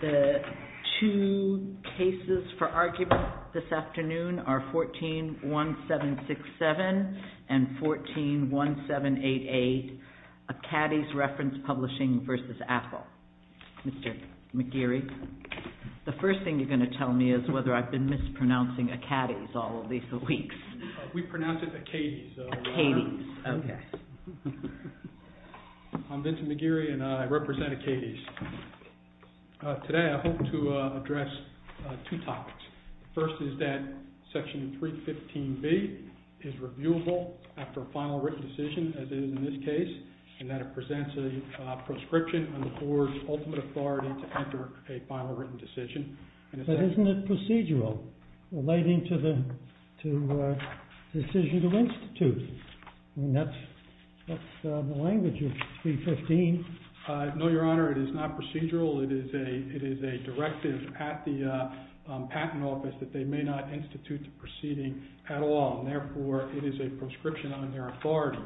The two cases for argument this afternoon are 14-1767 and 14-1788, Acates Reference Publishing v. Apple. Mr. McGeary, the first thing you're going to tell me is whether I've been mispronouncing Acates all of these weeks. We pronounce it Acades. Acades, okay. I'm Vincent McGeary and I represent Acades. Today I hope to address two topics. The first is that Section 315B is reviewable after a final written decision, as it is in this case, and that it presents a proscription on the Board's ultimate authority to enter a final written decision. But isn't it procedural relating to the decision to institute? That's the language of 315. No, Your Honor, it is not procedural. It is a directive at the Patent Office that they may not institute the proceeding at all, and therefore it is a proscription on their authority.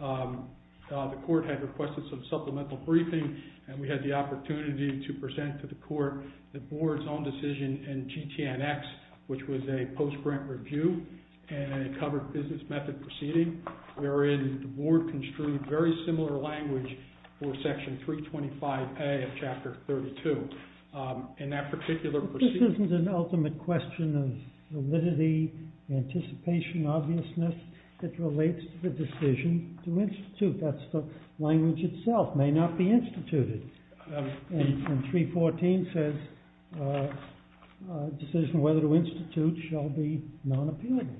The Court had requested some supplemental briefing and we had the opportunity to present to the Court the Board's own decision in GTN-X, which was a post-grant review and a covered business method proceeding, wherein the Board construed very similar language for Section 325A of Chapter 32. In that particular proceeding... This isn't an ultimate question of validity, anticipation, obviousness. It relates to the decision to institute. That's the language itself, may not be instituted. And 314 says a decision whether to institute shall be non-appealable.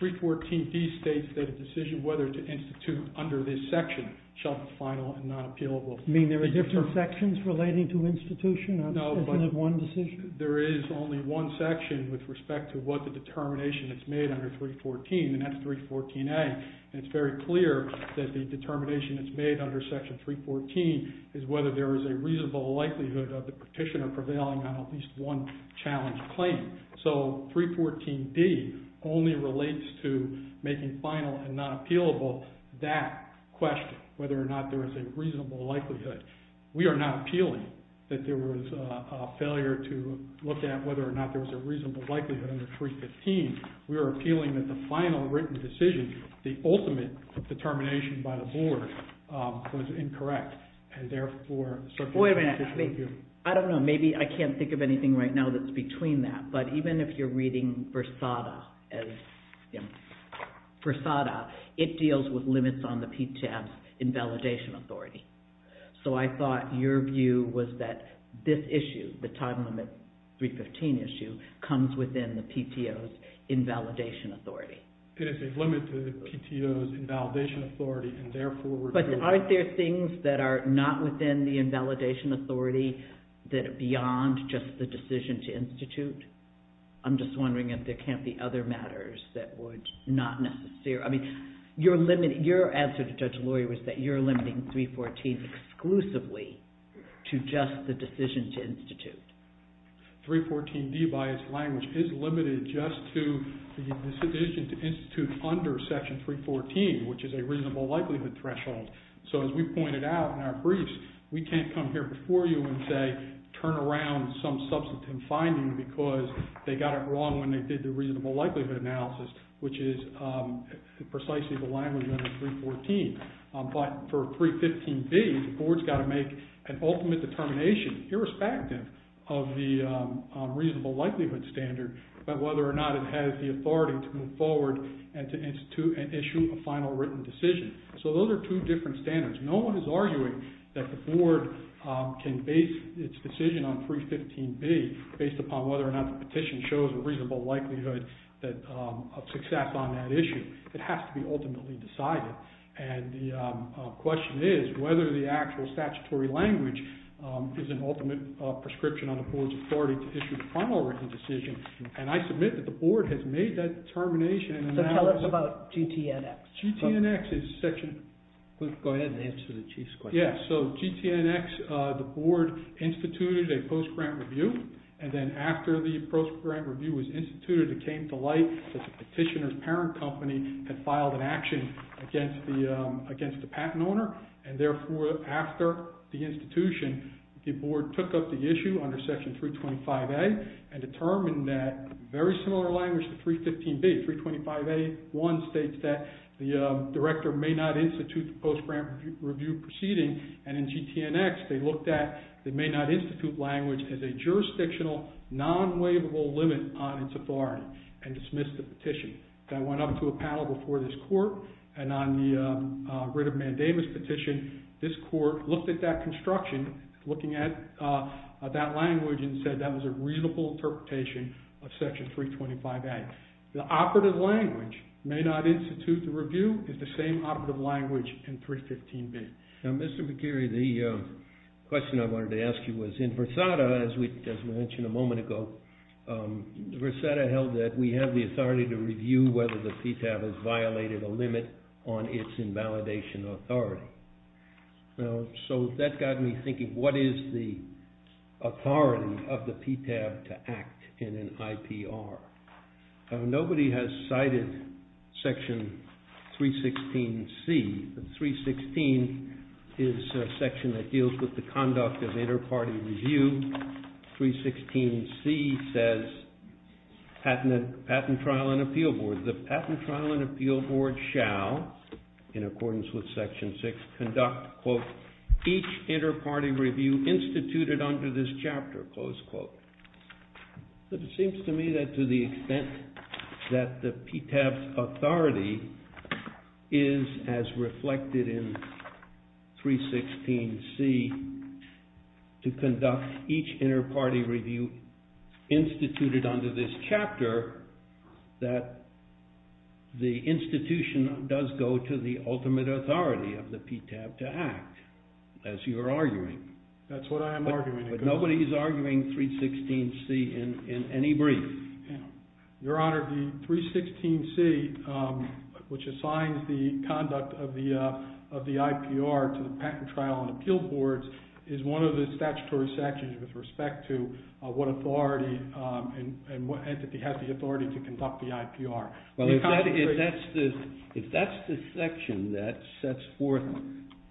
314D states that a decision whether to institute under this section shall be final and non-appealable. You mean there are different sections relating to institution? Isn't it one decision? There is only one section with respect to what the determination is made under 314, and that's 314A. It's very clear that the determination that's made under Section 314 is whether there is a reasonable likelihood of the petitioner prevailing on at least one challenge claim. So 314D only relates to making final and non-appealable that question, whether or not there is a reasonable likelihood. We are not appealing that there was a failure to look at whether or not there was a reasonable likelihood under 315. We are appealing that the final written decision, the ultimate determination by the board, was incorrect, and therefore, the Circuit Court has issued a view. Wait a minute. I don't know. Maybe I can't think of anything right now that's between that. But even if you're reading Versada as Versada, it deals with limits on the PTO's invalidation authority. So I thought your view was that this issue, the time limit 315 issue, comes within the PTO's invalidation authority. It is a limit to the PTO's invalidation authority, and therefore, we're doing… But aren't there things that are not within the invalidation authority that are beyond just the decision to institute? I'm just wondering if there can't be other matters that would not necessarily… I mean, your answer to Judge Laurie was that you're limiting 314 exclusively to just the decision to institute. 314D by its language is limited just to the decision to institute under Section 314, which is a reasonable likelihood threshold. So as we pointed out in our briefs, we can't come here before you and say, turn around some substantive finding because they got it wrong when they did the reasonable likelihood analysis, which is precisely the language under 314. But for 315D, the board's got to make an ultimate determination, irrespective of the reasonable likelihood standard, about whether or not it has the authority to move forward and to institute and issue a final written decision. So those are two different standards. No one is arguing that the board can base its decision on 315B based upon whether or not the petition shows a reasonable likelihood of success on that issue. It has to be ultimately decided. And the question is whether the actual statutory language is an ultimate prescription on the board's authority to issue the final written decision. And I submit that the board has made that determination. So tell us about GTNX. GTNX is Section... Go ahead and answer the Chief's question. Yeah, so GTNX, the board instituted a post-grant review, and then after the post-grant review was instituted, it came to light that the petitioner's parent company had filed an action against the patent owner, and therefore after the institution, the board took up the issue under Section 325A and determined that very similar language to 315B. 325A1 states that the director may not institute the post-grant review proceeding, and in GTNX they looked at the may not institute language as a jurisdictional non-waivable limit on its authority and dismissed the petition. I went up to a panel before this court, and on the writ of mandamus petition, this court looked at that construction, looking at that language, and said that was a reasonable interpretation of Section 325A. The operative language, may not institute the review, is the same operative language in 315B. Now, Mr. McKerry, the question I wanted to ask you was, in Versada, as we mentioned a moment ago, Versada held that we have the authority to review whether the PTAB has violated a limit on its invalidation authority. So that got me thinking, what is the authority of the PTAB to act in an IPR? Nobody has cited Section 316C. 316 is a section that deals with the conduct of inter-party review. 316C says, patent trial and appeal board. The patent trial and appeal board shall, in accordance with Section 6, conduct, quote, each inter-party review instituted under this chapter, close quote. But it seems to me that to the extent that the PTAB's authority is as reflected in 316C, to conduct each inter-party review instituted under this chapter, that the institution does go to the ultimate authority of the PTAB to act, as you are arguing. That's what I am arguing. But nobody is arguing 316C in any brief. Your Honor, the 316C, which assigns the conduct of the IPR to the patent trial and appeal boards, is one of the statutory sections with respect to what authority and what entity has the authority to conduct the IPR. If that's the section that sets forth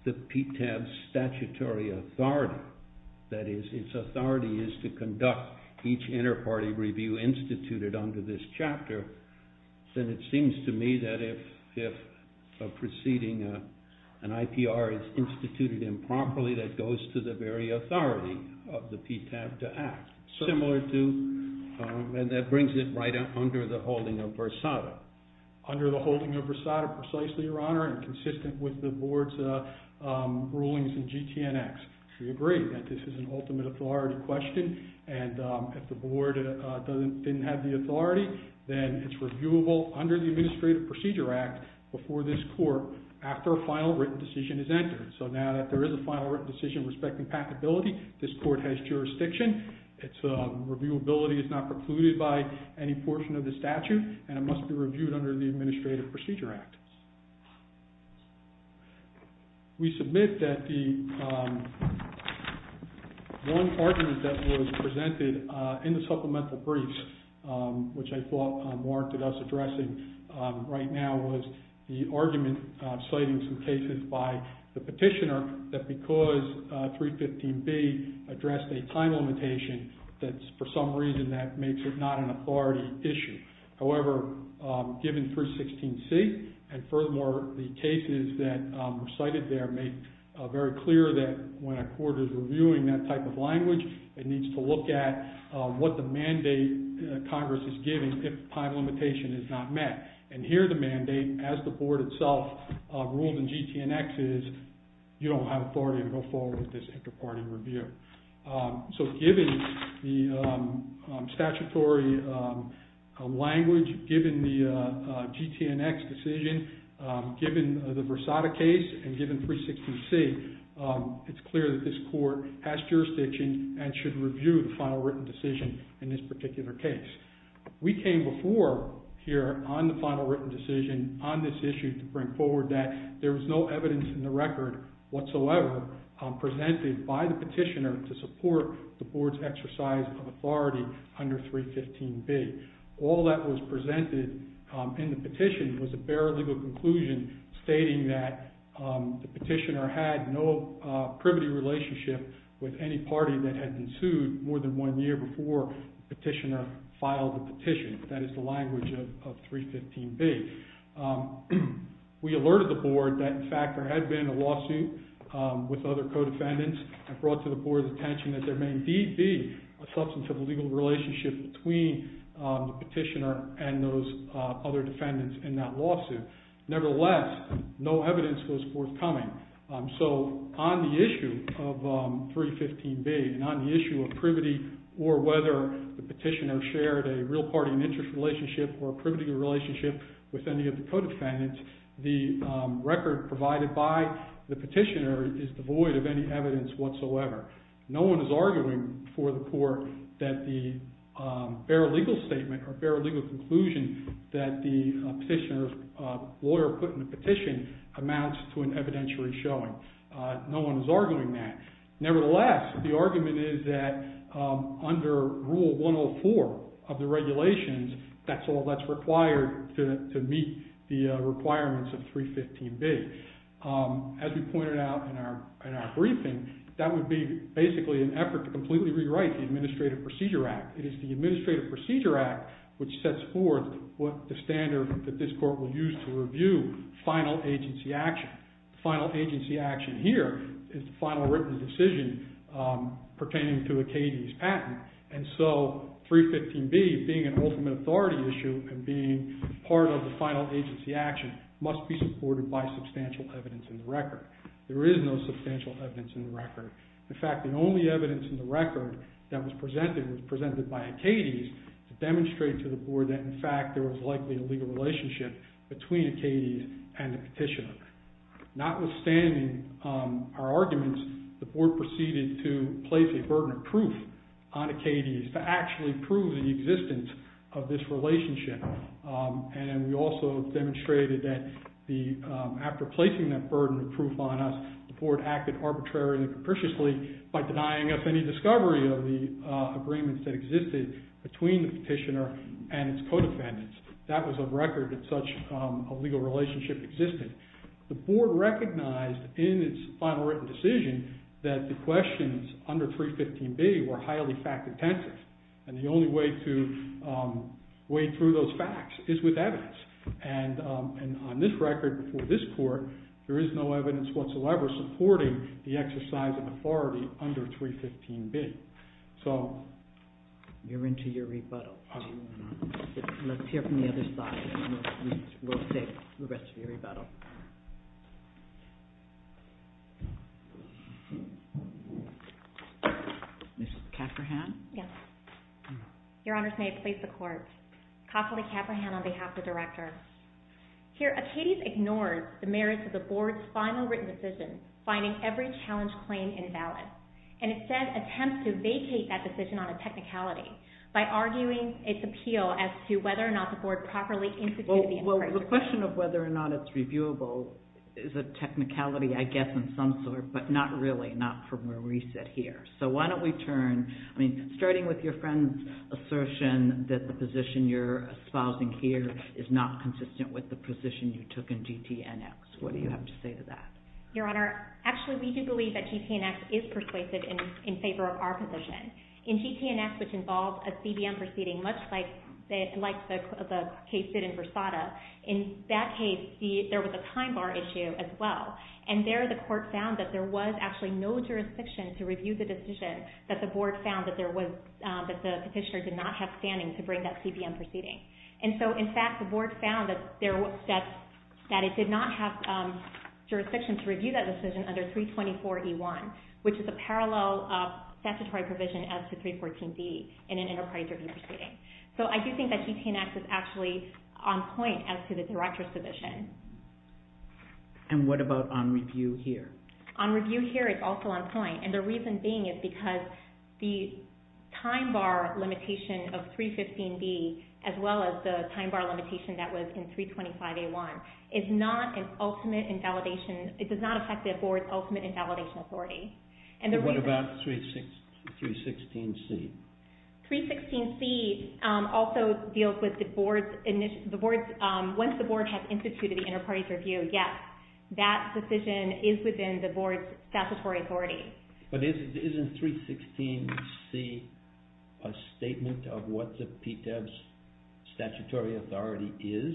the PTAB's statutory authority, that is, its authority is to conduct each inter-party review instituted under this chapter, then it seems to me that if a proceeding, an IPR is instituted improperly, that goes to the very authority of the PTAB to act. Similar to, and that brings it right under the holding of Versada. Under the holding of Versada, precisely, Your Honor, and consistent with the board's rulings in GTNX. We agree that this is an ultimate authority question, and if the board didn't have the authority, then it's reviewable under the Administrative Procedure Act before this court, after a final written decision is entered. So now that there is a final written decision respecting patentability, this court has jurisdiction, its reviewability is not precluded by any portion of the statute, and it must be reviewed under the Administrative Procedure Act. We submit that the one argument that was presented in the supplemental briefs, which I thought warranted us addressing right now, was the argument citing some cases by the petitioner that because 315B addressed a time limitation, that for some reason that makes it not an authority issue. However, given 316C, and furthermore, the cases that were cited there make very clear that when a court is reviewing that type of language, it needs to look at what the mandate Congress is giving if the time limitation is not met. And here the mandate, as the board itself ruled in GTNX, is you don't have authority to go forward with this inter-party review. So given the statutory language, given the GTNX decision, given the Versada case, and given 316C, it's clear that this court has jurisdiction and should review the final written decision in this particular case. We came before here on the final written decision on this issue to bring forward that there was no evidence in the record whatsoever presented by the petitioner to support the board's exercise of authority under 315B. All that was presented in the petition was a bare legal conclusion stating that with any party that had been sued more than one year before the petitioner filed the petition. That is the language of 315B. We alerted the board that, in fact, there had been a lawsuit with other co-defendants and brought to the board's attention that there may indeed be a substantive legal relationship between the petitioner and those other defendants in that lawsuit. Nevertheless, no evidence was forthcoming. So on the issue of 315B and on the issue of privity or whether the petitioner shared a real party and interest relationship or a privity relationship with any of the co-defendants, the record provided by the petitioner is devoid of any evidence whatsoever. No one is arguing for the court that the bare legal statement or bare legal conclusion that the petitioner's lawyer put in the petition amounts to an evidentiary showing. No one is arguing that. Nevertheless, the argument is that under Rule 104 of the regulations, that's all that's required to meet the requirements of 315B. As we pointed out in our briefing, that would be basically an effort to completely rewrite the Administrative Procedure Act. It is the Administrative Procedure Act which sets forth the standard that this court will use to review final agency action. The final agency action here is the final written decision pertaining to Acadie's patent. And so 315B, being an ultimate authority issue and being part of the final agency action, must be supported by substantial evidence in the record. There is no substantial evidence in the record. In fact, the only evidence in the record that was presented was presented by Acadie's to demonstrate to the board that, in fact, there was likely a legal relationship between Acadie's and the petitioner. Notwithstanding our arguments, the board proceeded to place a burden of proof on Acadie's to actually prove the existence of this relationship. And we also demonstrated that after placing that burden of proof on us, the board acted arbitrarily and capriciously by denying us any discovery of the agreements that existed between the petitioner and its co-defendants. That was a record that such a legal relationship existed. The board recognized in its final written decision that the questions under 315B were highly fact-intensive. And the only way to weigh through those facts is with evidence. And on this record before this court, there is no evidence whatsoever supporting the exercise of authority under 315B. You're into your rebuttal. Let's hear from the other side, and we'll take the rest of your rebuttal. Ms. Cafferhan? Yes. Your Honors, may I please the court? Kassidy Cafferhan on behalf of the director. Here, Acadie's ignores the merits of the board's final written decision, finding every challenge claim invalid, and instead attempts to vacate that decision on a technicality by arguing its appeal as to whether or not the board properly instituted the appraisal. Well, the question of whether or not it's reviewable is a technicality, I guess, of some sort, but not really, not from where we sit here. So why don't we turn, I mean, starting with your friend's assertion that the position you're espousing here is not consistent with the position you took in GTNX. What do you have to say to that? Your Honor, actually, we do believe that GTNX is persuasive in favor of our position. In GTNX, which involves a CBM proceeding, much like the case did in Versada, in that case, there was a time bar issue as well. And there, the court found that there was actually no jurisdiction to review the decision that the board found that the petitioner did not have standing to bring that CBM proceeding. And so, in fact, the board found that it did not have jurisdiction to review that decision under 324E1, which is a parallel statutory provision as to 314B in an enterprise review proceeding. So I do think that GTNX is actually on point as to the director's position. And what about on review here? On review here, it's also on point. And the reason being is because the time bar limitation of 315B, as well as the time bar limitation that was in 325A1, is not an ultimate invalidation, it does not reflect the board's ultimate invalidation authority. And what about 316C? 316C also deals with the board's, once the board has instituted the enterprise review, yes, that decision is within the board's statutory authority. But isn't 316C a statement of what the PTAB's statutory authority is?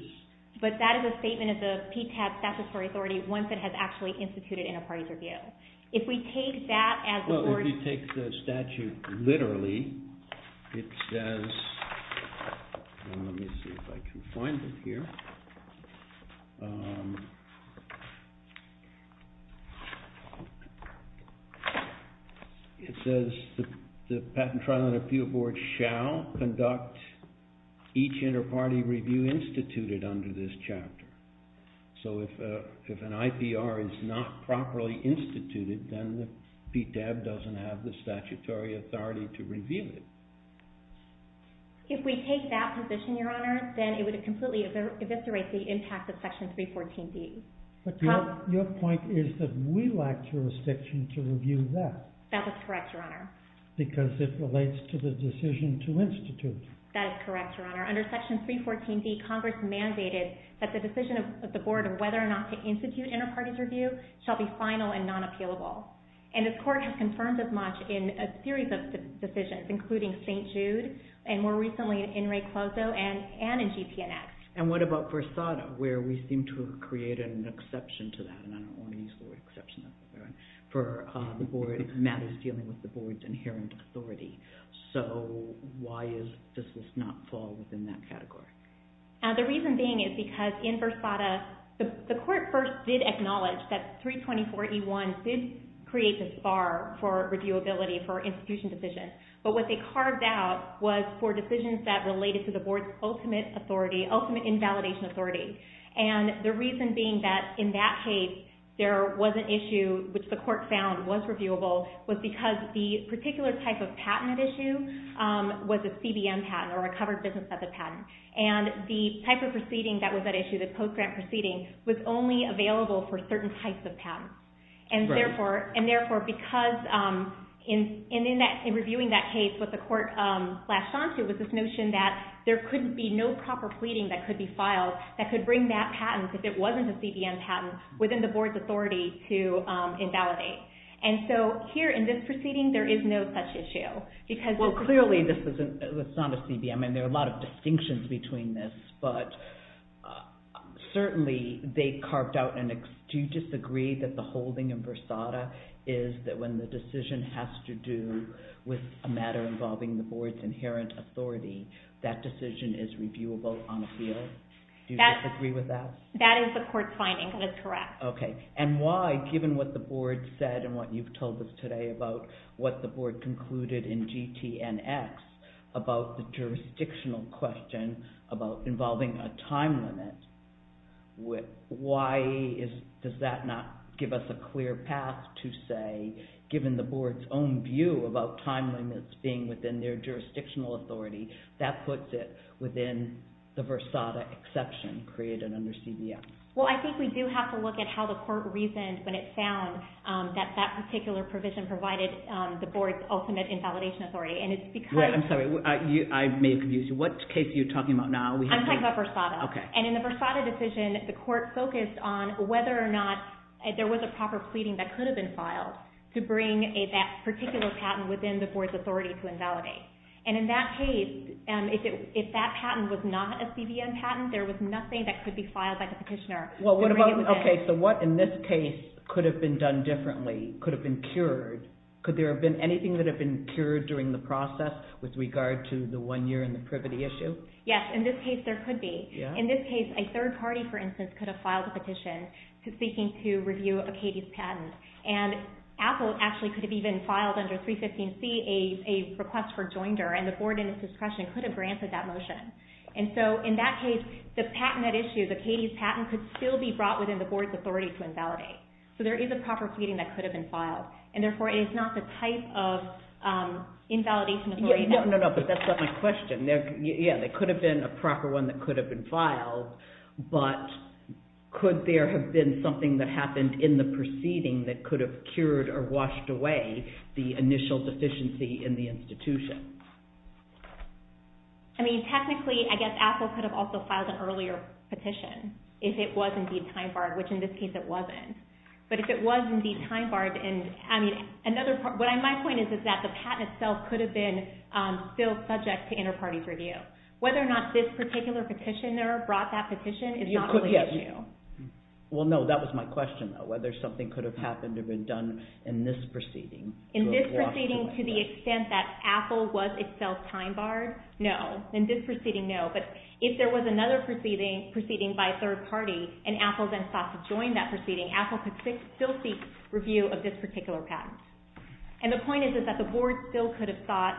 But that is a statement of the PTAB's statutory authority once it has actually instituted enterprise review. If we take that as the board's- Well, if you take the statute literally, it says, let me see if I can find it here, it says the patent trial and appeal board shall conduct each interparty review instituted under this chapter. So if an IPR is not properly instituted, then the PTAB doesn't have the statutory authority to review it. If we take that position, Your Honor, then it would completely eviscerate the impact of Section 314D. But your point is that we lack jurisdiction to review that. That is correct, Your Honor. Because it relates to the decision to institute. That is correct, Your Honor. Under Section 314D, Congress mandated that the decision of the board of whether or not to institute interparties review shall be final and non-appealable. And this Court has confirmed this much in a series of decisions, including St. Jude and more recently in In Re Closo and in GPNX. And what about Versada, where we seem to have created an exception to that, and I don't want to use the word exception, that's all right, for the board matters dealing with the board's inherent authority. So why does this not fall within that category? The reason being is because in Versada, the Court first did acknowledge that 324E1 did create this bar for reviewability for institution decisions. But what they carved out was for decisions that related to the board's ultimate authority, ultimate invalidation authority. And the reason being that in that case, there was an issue which the Court found was reviewable was because the particular type of patent at issue was a CBN patent, or a covered business as a patent. And the type of proceeding that was at issue, the post-grant proceeding, was only available for certain types of patents. And therefore, because in reviewing that case, what the Court latched onto was this notion that there could be no proper pleading that could be filed that could bring that patent, if it wasn't a CBN patent, within the board's authority to invalidate. And so here, in this proceeding, there is no such issue. Well, clearly, this is not a CBN. I mean, there are a lot of distinctions between this. But certainly, they carved out an... Do you disagree that the holding in Versada is that when the decision has to do with a matter involving the board's inherent authority, that decision is reviewable on appeal? Do you disagree with that? That is the Court's finding, and it's correct. Okay. And why, given what the board said and what you've told us today about what the board concluded in GTNX about the jurisdictional question about involving a time limit, why does that not give us a clear path to say, given the board's own view about time limits being within their jurisdictional authority, that puts it within the Versada exception created under CBN? Well, I think we do have to look at how the court reasoned when it found that that particular provision provided the board's ultimate invalidation authority. And it's because... Right. I'm sorry. I may have confused you. What case are you talking about now? I'm talking about Versada. Okay. And in the Versada decision, the court focused on whether or not there was a proper pleading that could have been filed to bring that particular patent within the board's authority to invalidate. And in that case, if that patent was not a CBN patent, there was nothing that could be filed by the petitioner. Okay. So what in this case could have been done differently, could have been cured? Could there have been anything that had been cured during the process with regard to the one year and the privity issue? Yes. In this case, there could be. In this case, a third party, for instance, could have filed a petition seeking to review a Katie's patent. And Apple actually could have even filed under 315C a request for joinder, and the board in its discretion could have granted that motion. And so in that case, the patent at issue, the Katie's patent could still be brought within the board's authority to invalidate. So there is a proper pleading that could have been filed, and therefore it is not the type of invalidation authority. No, no, no, but that's not my question. Yeah, there could have been a proper one that could have been filed, but could there have been something that happened in the proceeding that could have cured or washed away the initial deficiency in the institution? I mean, technically, I guess Apple could have also filed an earlier petition if it was indeed time-barred, which in this case it wasn't. But if it was indeed time-barred, I mean, what my point is is that the patent itself could have been still subject to inter-parties review. Whether or not this particular petitioner brought that petition is not really an issue. Well, no, that was my question, though. Whether something could have happened or been done in this proceeding to the extent that Apple was itself time-barred, no. In this proceeding, no. But if there was another proceeding by a third party and Apple then sought to join that proceeding, Apple could still seek review of this particular patent. And the point is that the Board still could have thought,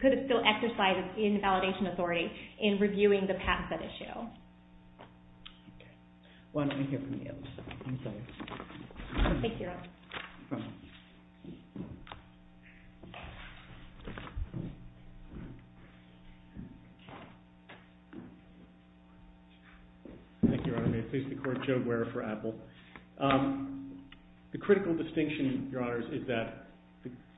could have still exercised an invalidation authority in reviewing the patent that issue. Okay. Why don't we hear from you? I'm sorry. Thank you, Your Honor. Thank you, Your Honor. May it please the Court, Joe Guerra for Apple. The critical distinction, Your Honors, is that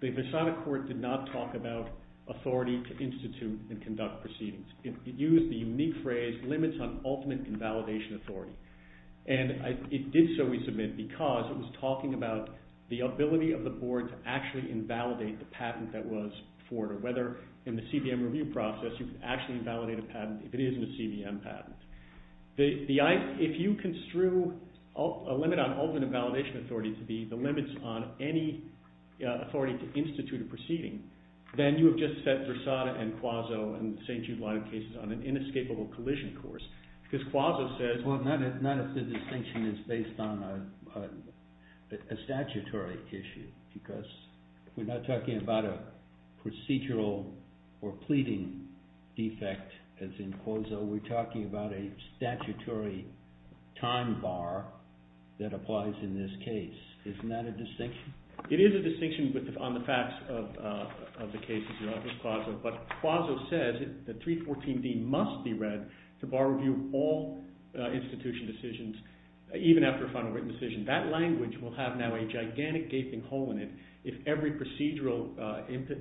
the Visada Court did not talk about authority to institute and conduct proceedings. It used the unique phrase, limits on ultimate invalidation authority. And it did so, we submit, because it was talking about the ability of the Board to actually invalidate the patent that was forwarded, whether in the CBM review process you could actually invalidate a patent if it isn't a CBM patent. If you construe a limit on ultimate invalidation authority to be the limits on any authority to institute a proceeding, then you have just set Visada and Quazzo and the St. Jude line of cases on an inescapable collision course. Because Quazzo says... Well, not if the distinction is based on a statutory issue. Because we're not talking about a procedural or pleading defect, as in Quazzo, we're talking about a statutory time bar that applies in this case. Isn't that a distinction? It is a distinction on the facts of the cases, Your Honor, as Quazzo, but Quazzo says that the 314D must be read to bar review all institution decisions, even after a final written decision. That language will have now a gigantic gaping hole in it if every procedural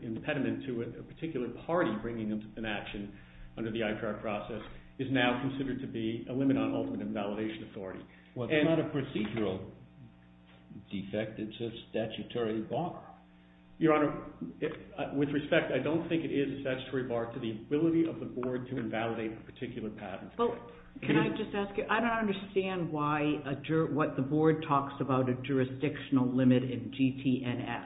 impediment to a particular party bringing an action under the ICAR process is now considered to be a limit on ultimate invalidation authority. Well, it's not a procedural defect, it's a statutory bar. Your Honor, with respect, I don't think it is a statutory bar to the ability of the Board to invalidate a particular patent. Can I just ask you, I don't understand why the Board talks about a jurisdictional limit in GTNX,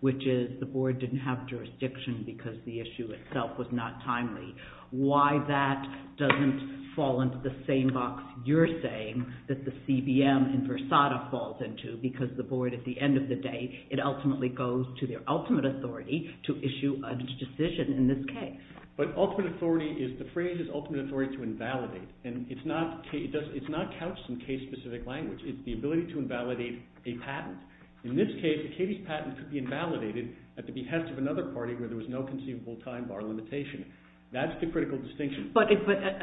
which is the Board didn't have jurisdiction because the issue itself was not timely. Why that doesn't fall into the same box you're saying that the CBM in Versada falls into, because the Board, at the end of the day, it ultimately goes to their ultimate authority to issue a decision in this case. But ultimate authority, the phrase is ultimate authority to invalidate, and it's not couched in case-specific language. It's the ability to invalidate a patent. In this case, Katie's patent could be invalidated at the behest of another party where there was no conceivable time bar limitation. That's the critical distinction. But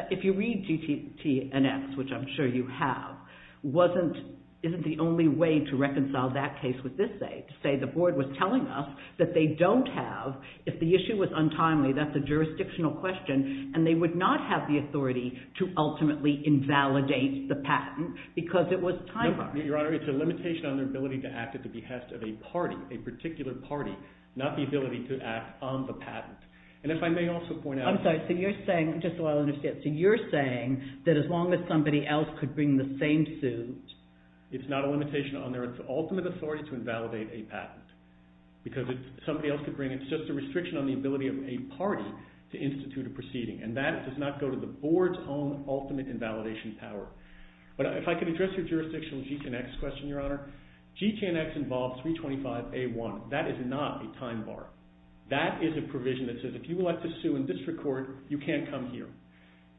if you read GTNX, which I'm sure you have, isn't the only way to reconcile that case with this case, to say the Board was telling us that they don't have, if the issue was untimely, that's a jurisdictional question, and they would not have the authority to ultimately invalidate the patent because it was time-bound. Your Honor, it's a limitation on their ability to act at the behest of a party, a particular party, not the ability to act on the patent. And if I may also point out... I'm sorry, so you're saying, just so I understand, so you're saying that as long as somebody else could bring the same suit... It's not a limitation on their ultimate authority to invalidate a patent. Because if somebody else could bring it, it's just a restriction on the ability of a party to institute a proceeding. And that does not go to the Board's own ultimate invalidation power. But if I could address your jurisdictional GTNX question, Your Honor. GTNX involves 325A1. That is not a time bar. That is a provision that says, if you elect to sue in district court, you can't come here.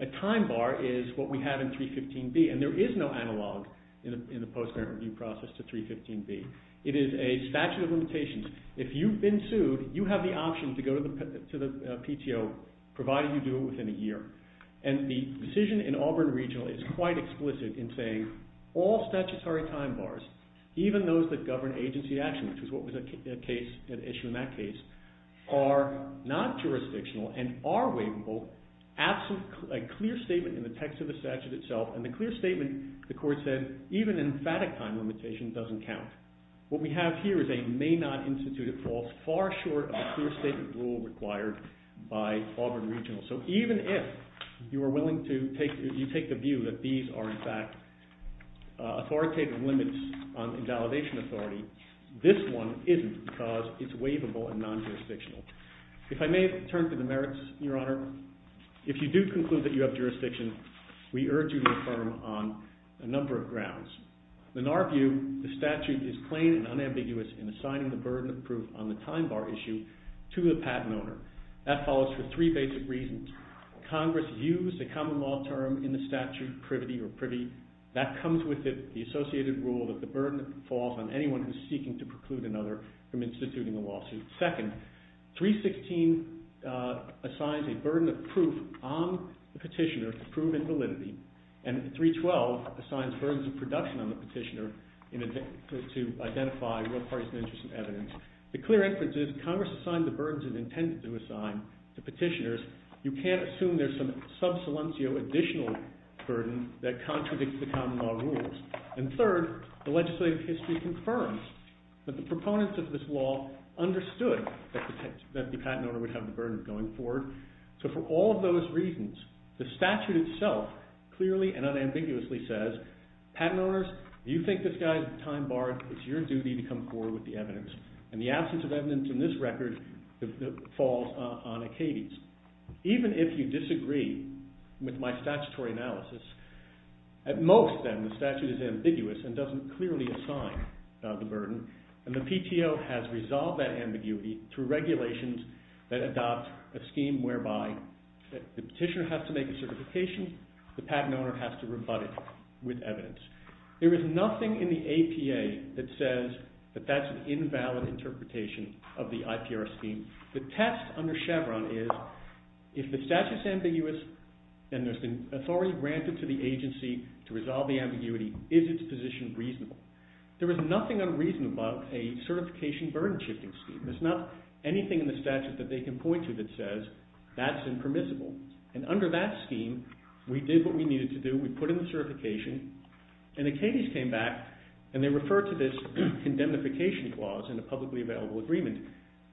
A time bar is what we have in 315B. And there is no analog in the post-parent review process to 315B. It is a statute of limitations. If you've been sued, you have the option to go to the PTO, provided you do it within a year. And the decision in Auburn Regional is quite explicit in saying all statutory time bars, even those that govern agency action, which is what was at issue in that case, are not jurisdictional and are waivable absent a clear statement in the text of the statute itself. And the clear statement, the court said, even in emphatic time limitations doesn't count. What we have here is a may not institute at false, far short of a clear statement rule required by Auburn Regional. So even if you are willing to take, you take the view that these are in fact authoritative limits on invalidation authority, this one isn't because it's waivable and non-jurisdictional. If I may turn to the merits, Your Honor, if you do conclude that you have jurisdiction, we urge you to affirm on a number of grounds. In our view, the statute is plain and unambiguous in assigning the burden of proof on the time bar issue to the patent owner. That follows for three basic reasons. Congress views the common law term in the statute, privity or privy, that comes with it, the associated rule that the burden falls on anyone who's seeking to preclude another from instituting a lawsuit. Second, 316 assigns a burden of proof on the petitioner to prove invalidity, and 312 assigns burdens of production on the petitioner to identify real partisan interest in evidence. The clear inference is Congress assigned the burdens it intended to assign to petitioners. You can't assume there's some sub-salencio additional burden that contradicts the common law rules. And third, the legislative history confirms that the proponents of this law understood that the patent owner would have the burden going forward. So for all of those reasons, the statute itself clearly and unambiguously says, patent owners, you think this guy's time bar is your duty to come forward with the evidence. And the absence of evidence in this record falls on Acades. Even if you disagree with my statutory analysis, at most, then, the statute is ambiguous and doesn't clearly assign the burden. And the PTO has resolved that ambiguity through regulations that adopt a scheme whereby the petitioner has to make a certification, the patent owner has to rebut it with evidence. There is nothing in the APA that says that that's an invalid interpretation of the IPR scheme. The test under Chevron is, if the statute's ambiguous and there's been authority granted to the agency to resolve the ambiguity, is its position reasonable? There is nothing unreasonable about a certification burden shifting scheme. There's not anything in the statute that they can point to that says that's impermissible. And under that scheme, we did what we needed to do, we put in the certification, and Acades came back and they referred to this condemnification clause in the publicly available agreement.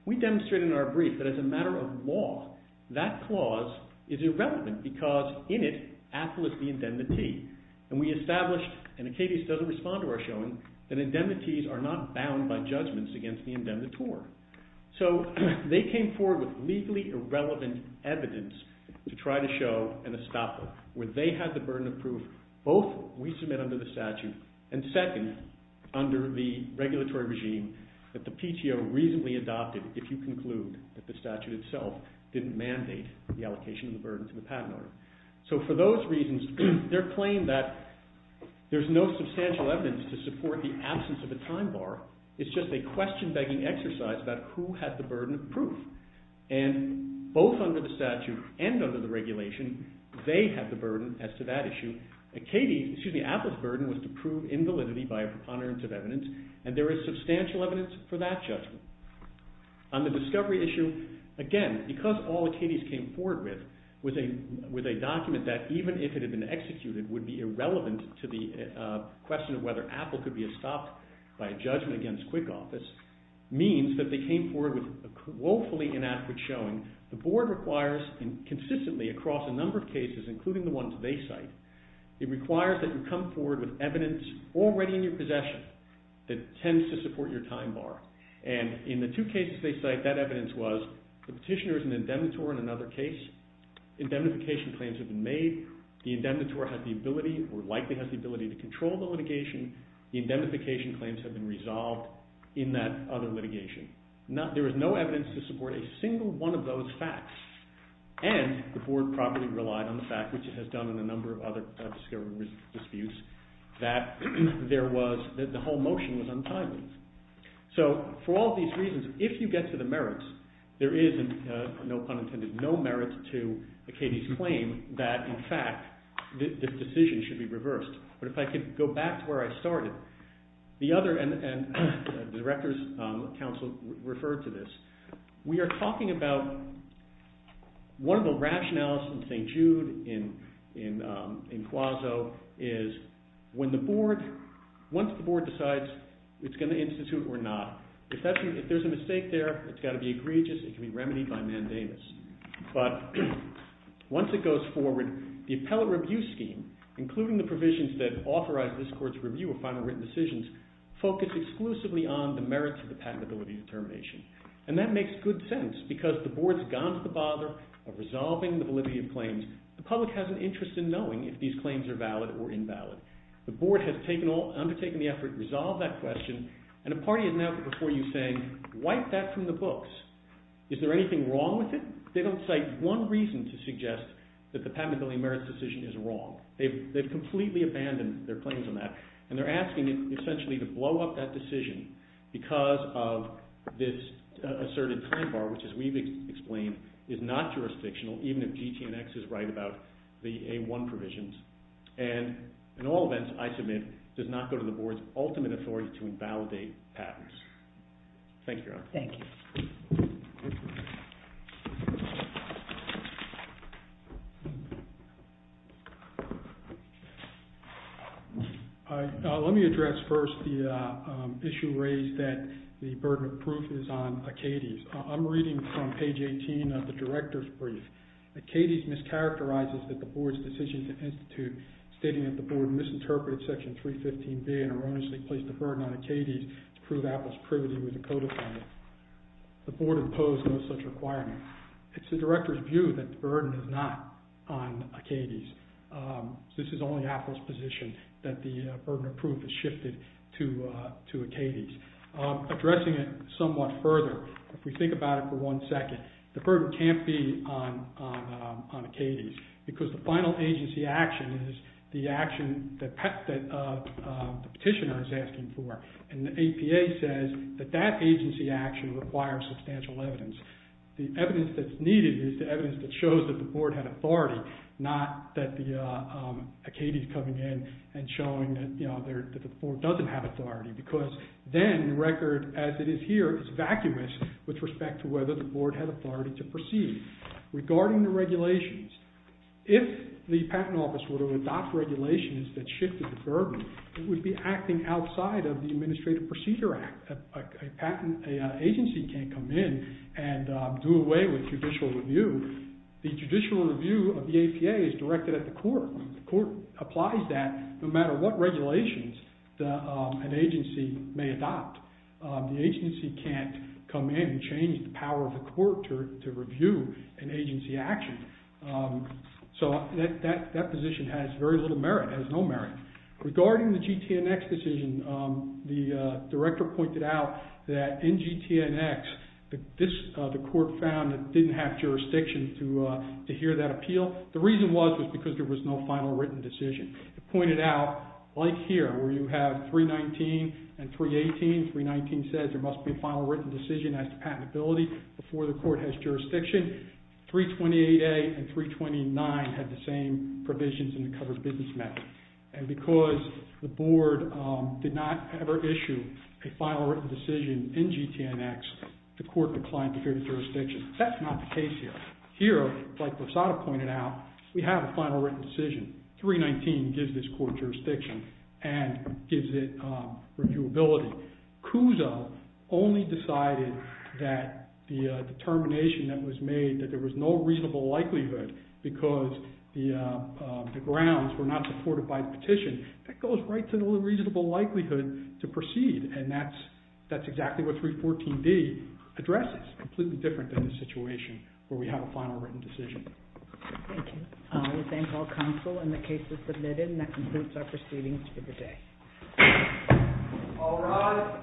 We demonstrated in our brief that as a matter of law, that clause is irrelevant because in it, an estoppel is the indemnity. And we established, and Acades doesn't respond to our showing, that indemnities are not bound by judgments against the indemnitor. So they came forward with legally irrelevant evidence to try to show an estoppel, where they had the burden of proof, both we submit under the statute, and second, under the regulatory regime, that the PTO reasonably adopted if you conclude that the statute itself didn't mandate the allocation of the burden to the patent owner. So for those reasons, their claim that there's no substantial evidence to support the absence of a time bar is just a question-begging exercise about who had the burden of proof. And both under the statute and under the regulation, they had the burden as to that issue. Acades, excuse me, Apple's burden was to prove invalidity by a preponderance of evidence, and there is substantial evidence for that judgment. On the discovery issue, again, because all Acades came forward with a document that, even if it had been executed, would be irrelevant to the question of whether Apple could be estopped by a judgment against QuickOffice, means that they came forward with woefully inadequate showing. The Board requires consistently across a number of cases, including the ones they cite, it requires that you come forward with evidence already in your possession that tends to support your time bar. And in the two cases they cite, that evidence was the petitioner is an indemnitor in another case. Indemnification claims have been made. The indemnitor likely has the ability to control the litigation. The indemnification claims have been resolved in that other litigation. There is no evidence to support a single one of those facts. And the Board probably relied on the fact, which it has done in a number of other discovery disputes, that the whole motion was untimely. So, for all these reasons, if you get to the merits, there is, no pun intended, no merits to Acadie's claim that, in fact, this decision should be reversed. But if I could go back to where I started. The other, and the Director's Council referred to this, we are talking about one of the rationales in St. Jude, in Quaso, is when the Board, once the Board decides it's going to institute or not, if there's a mistake there, it's got to be egregious, it can be remedied by mandamus. But, once it goes forward, the appellate review scheme, including the provisions that authorize this Court's review of final written decisions, focus exclusively on the merits of the patentability determination. And that makes good sense, because the Board's gone to the bother of resolving the validity of claims. The public has an interest in knowing if these claims are valid or invalid. The Board has undertaken the effort, resolved that question, and a party has now put before you, saying, wipe that from the books. Is there anything wrong with it? They don't cite one reason to suggest that the patentability merits decision is wrong. They've completely abandoned their claims on that. And they're asking, essentially, to blow up that decision because of this asserted time bar, which, as we've explained, is not jurisdictional, even if GT&X is right about the A1 provisions. And, in all events, I submit, does not go to the Board's ultimate authority to invalidate patents. Thank you, Your Honor. Thank you. Let me address first the issue raised that the burden of proof is on Acades. I'm reading from page 18 of the Director's Brief. Acades mischaracterizes that the Board's decision to institute stating that the Board misinterpreted Section 315B and erroneously placed the burden on Acades to prove Apple's privity with a codify. The Board imposed no such requirement. It's the Director's view that the burden is not on Acades. This is only Apple's position that the burden of proof is shifted to Acades. Addressing it somewhat further, if we think about it for one second, the burden can't be on Acades because the final agency action is the action that the petitioner is asking for. And the APA says that that agency action requires substantial evidence. The evidence that's needed is the evidence that shows that the Board had authority, not that the Acades coming in and showing that the Board doesn't have authority because then the record as it is here is vacuous with respect to whether the Board had authority to proceed. Regarding the regulations, if the Patent Office were to adopt regulations that shifted the burden, it would be acting outside of the Administrative Procedure Act. A patent agency can't come in and do away with judicial review. The judicial review of the APA is directed at the court. The court applies that no matter what regulations an agency may adopt. The agency can't come in and change the power of the court to review an agency action. So that position has very little merit, has no merit. Regarding the GTNX decision, the Director pointed out that in GTNX, the court found it didn't have jurisdiction to hear that appeal. The reason was because there was no final written decision. He pointed out, like here, where you have 319 and 318, 319 says there must be a final written decision as to patentability before the court has jurisdiction. 328A and 329 had the same provisions in the covered business method. And because the Board did not ever issue a final written decision in GTNX, the court declined to hear the jurisdiction. That's not the case here. Here, like Rosado pointed out, we have a final written decision. 319 gives this court jurisdiction and gives it reviewability. CUSA only decided that the determination that was made that there was no reasonable likelihood because the grounds were not supported by the petition, that goes right to the reasonable likelihood to proceed. And that's exactly what 314B addresses. Completely different than the situation where we have a final written decision. Thank you. We thank all counsel and the cases submitted. And that concludes our proceedings for today. All rise.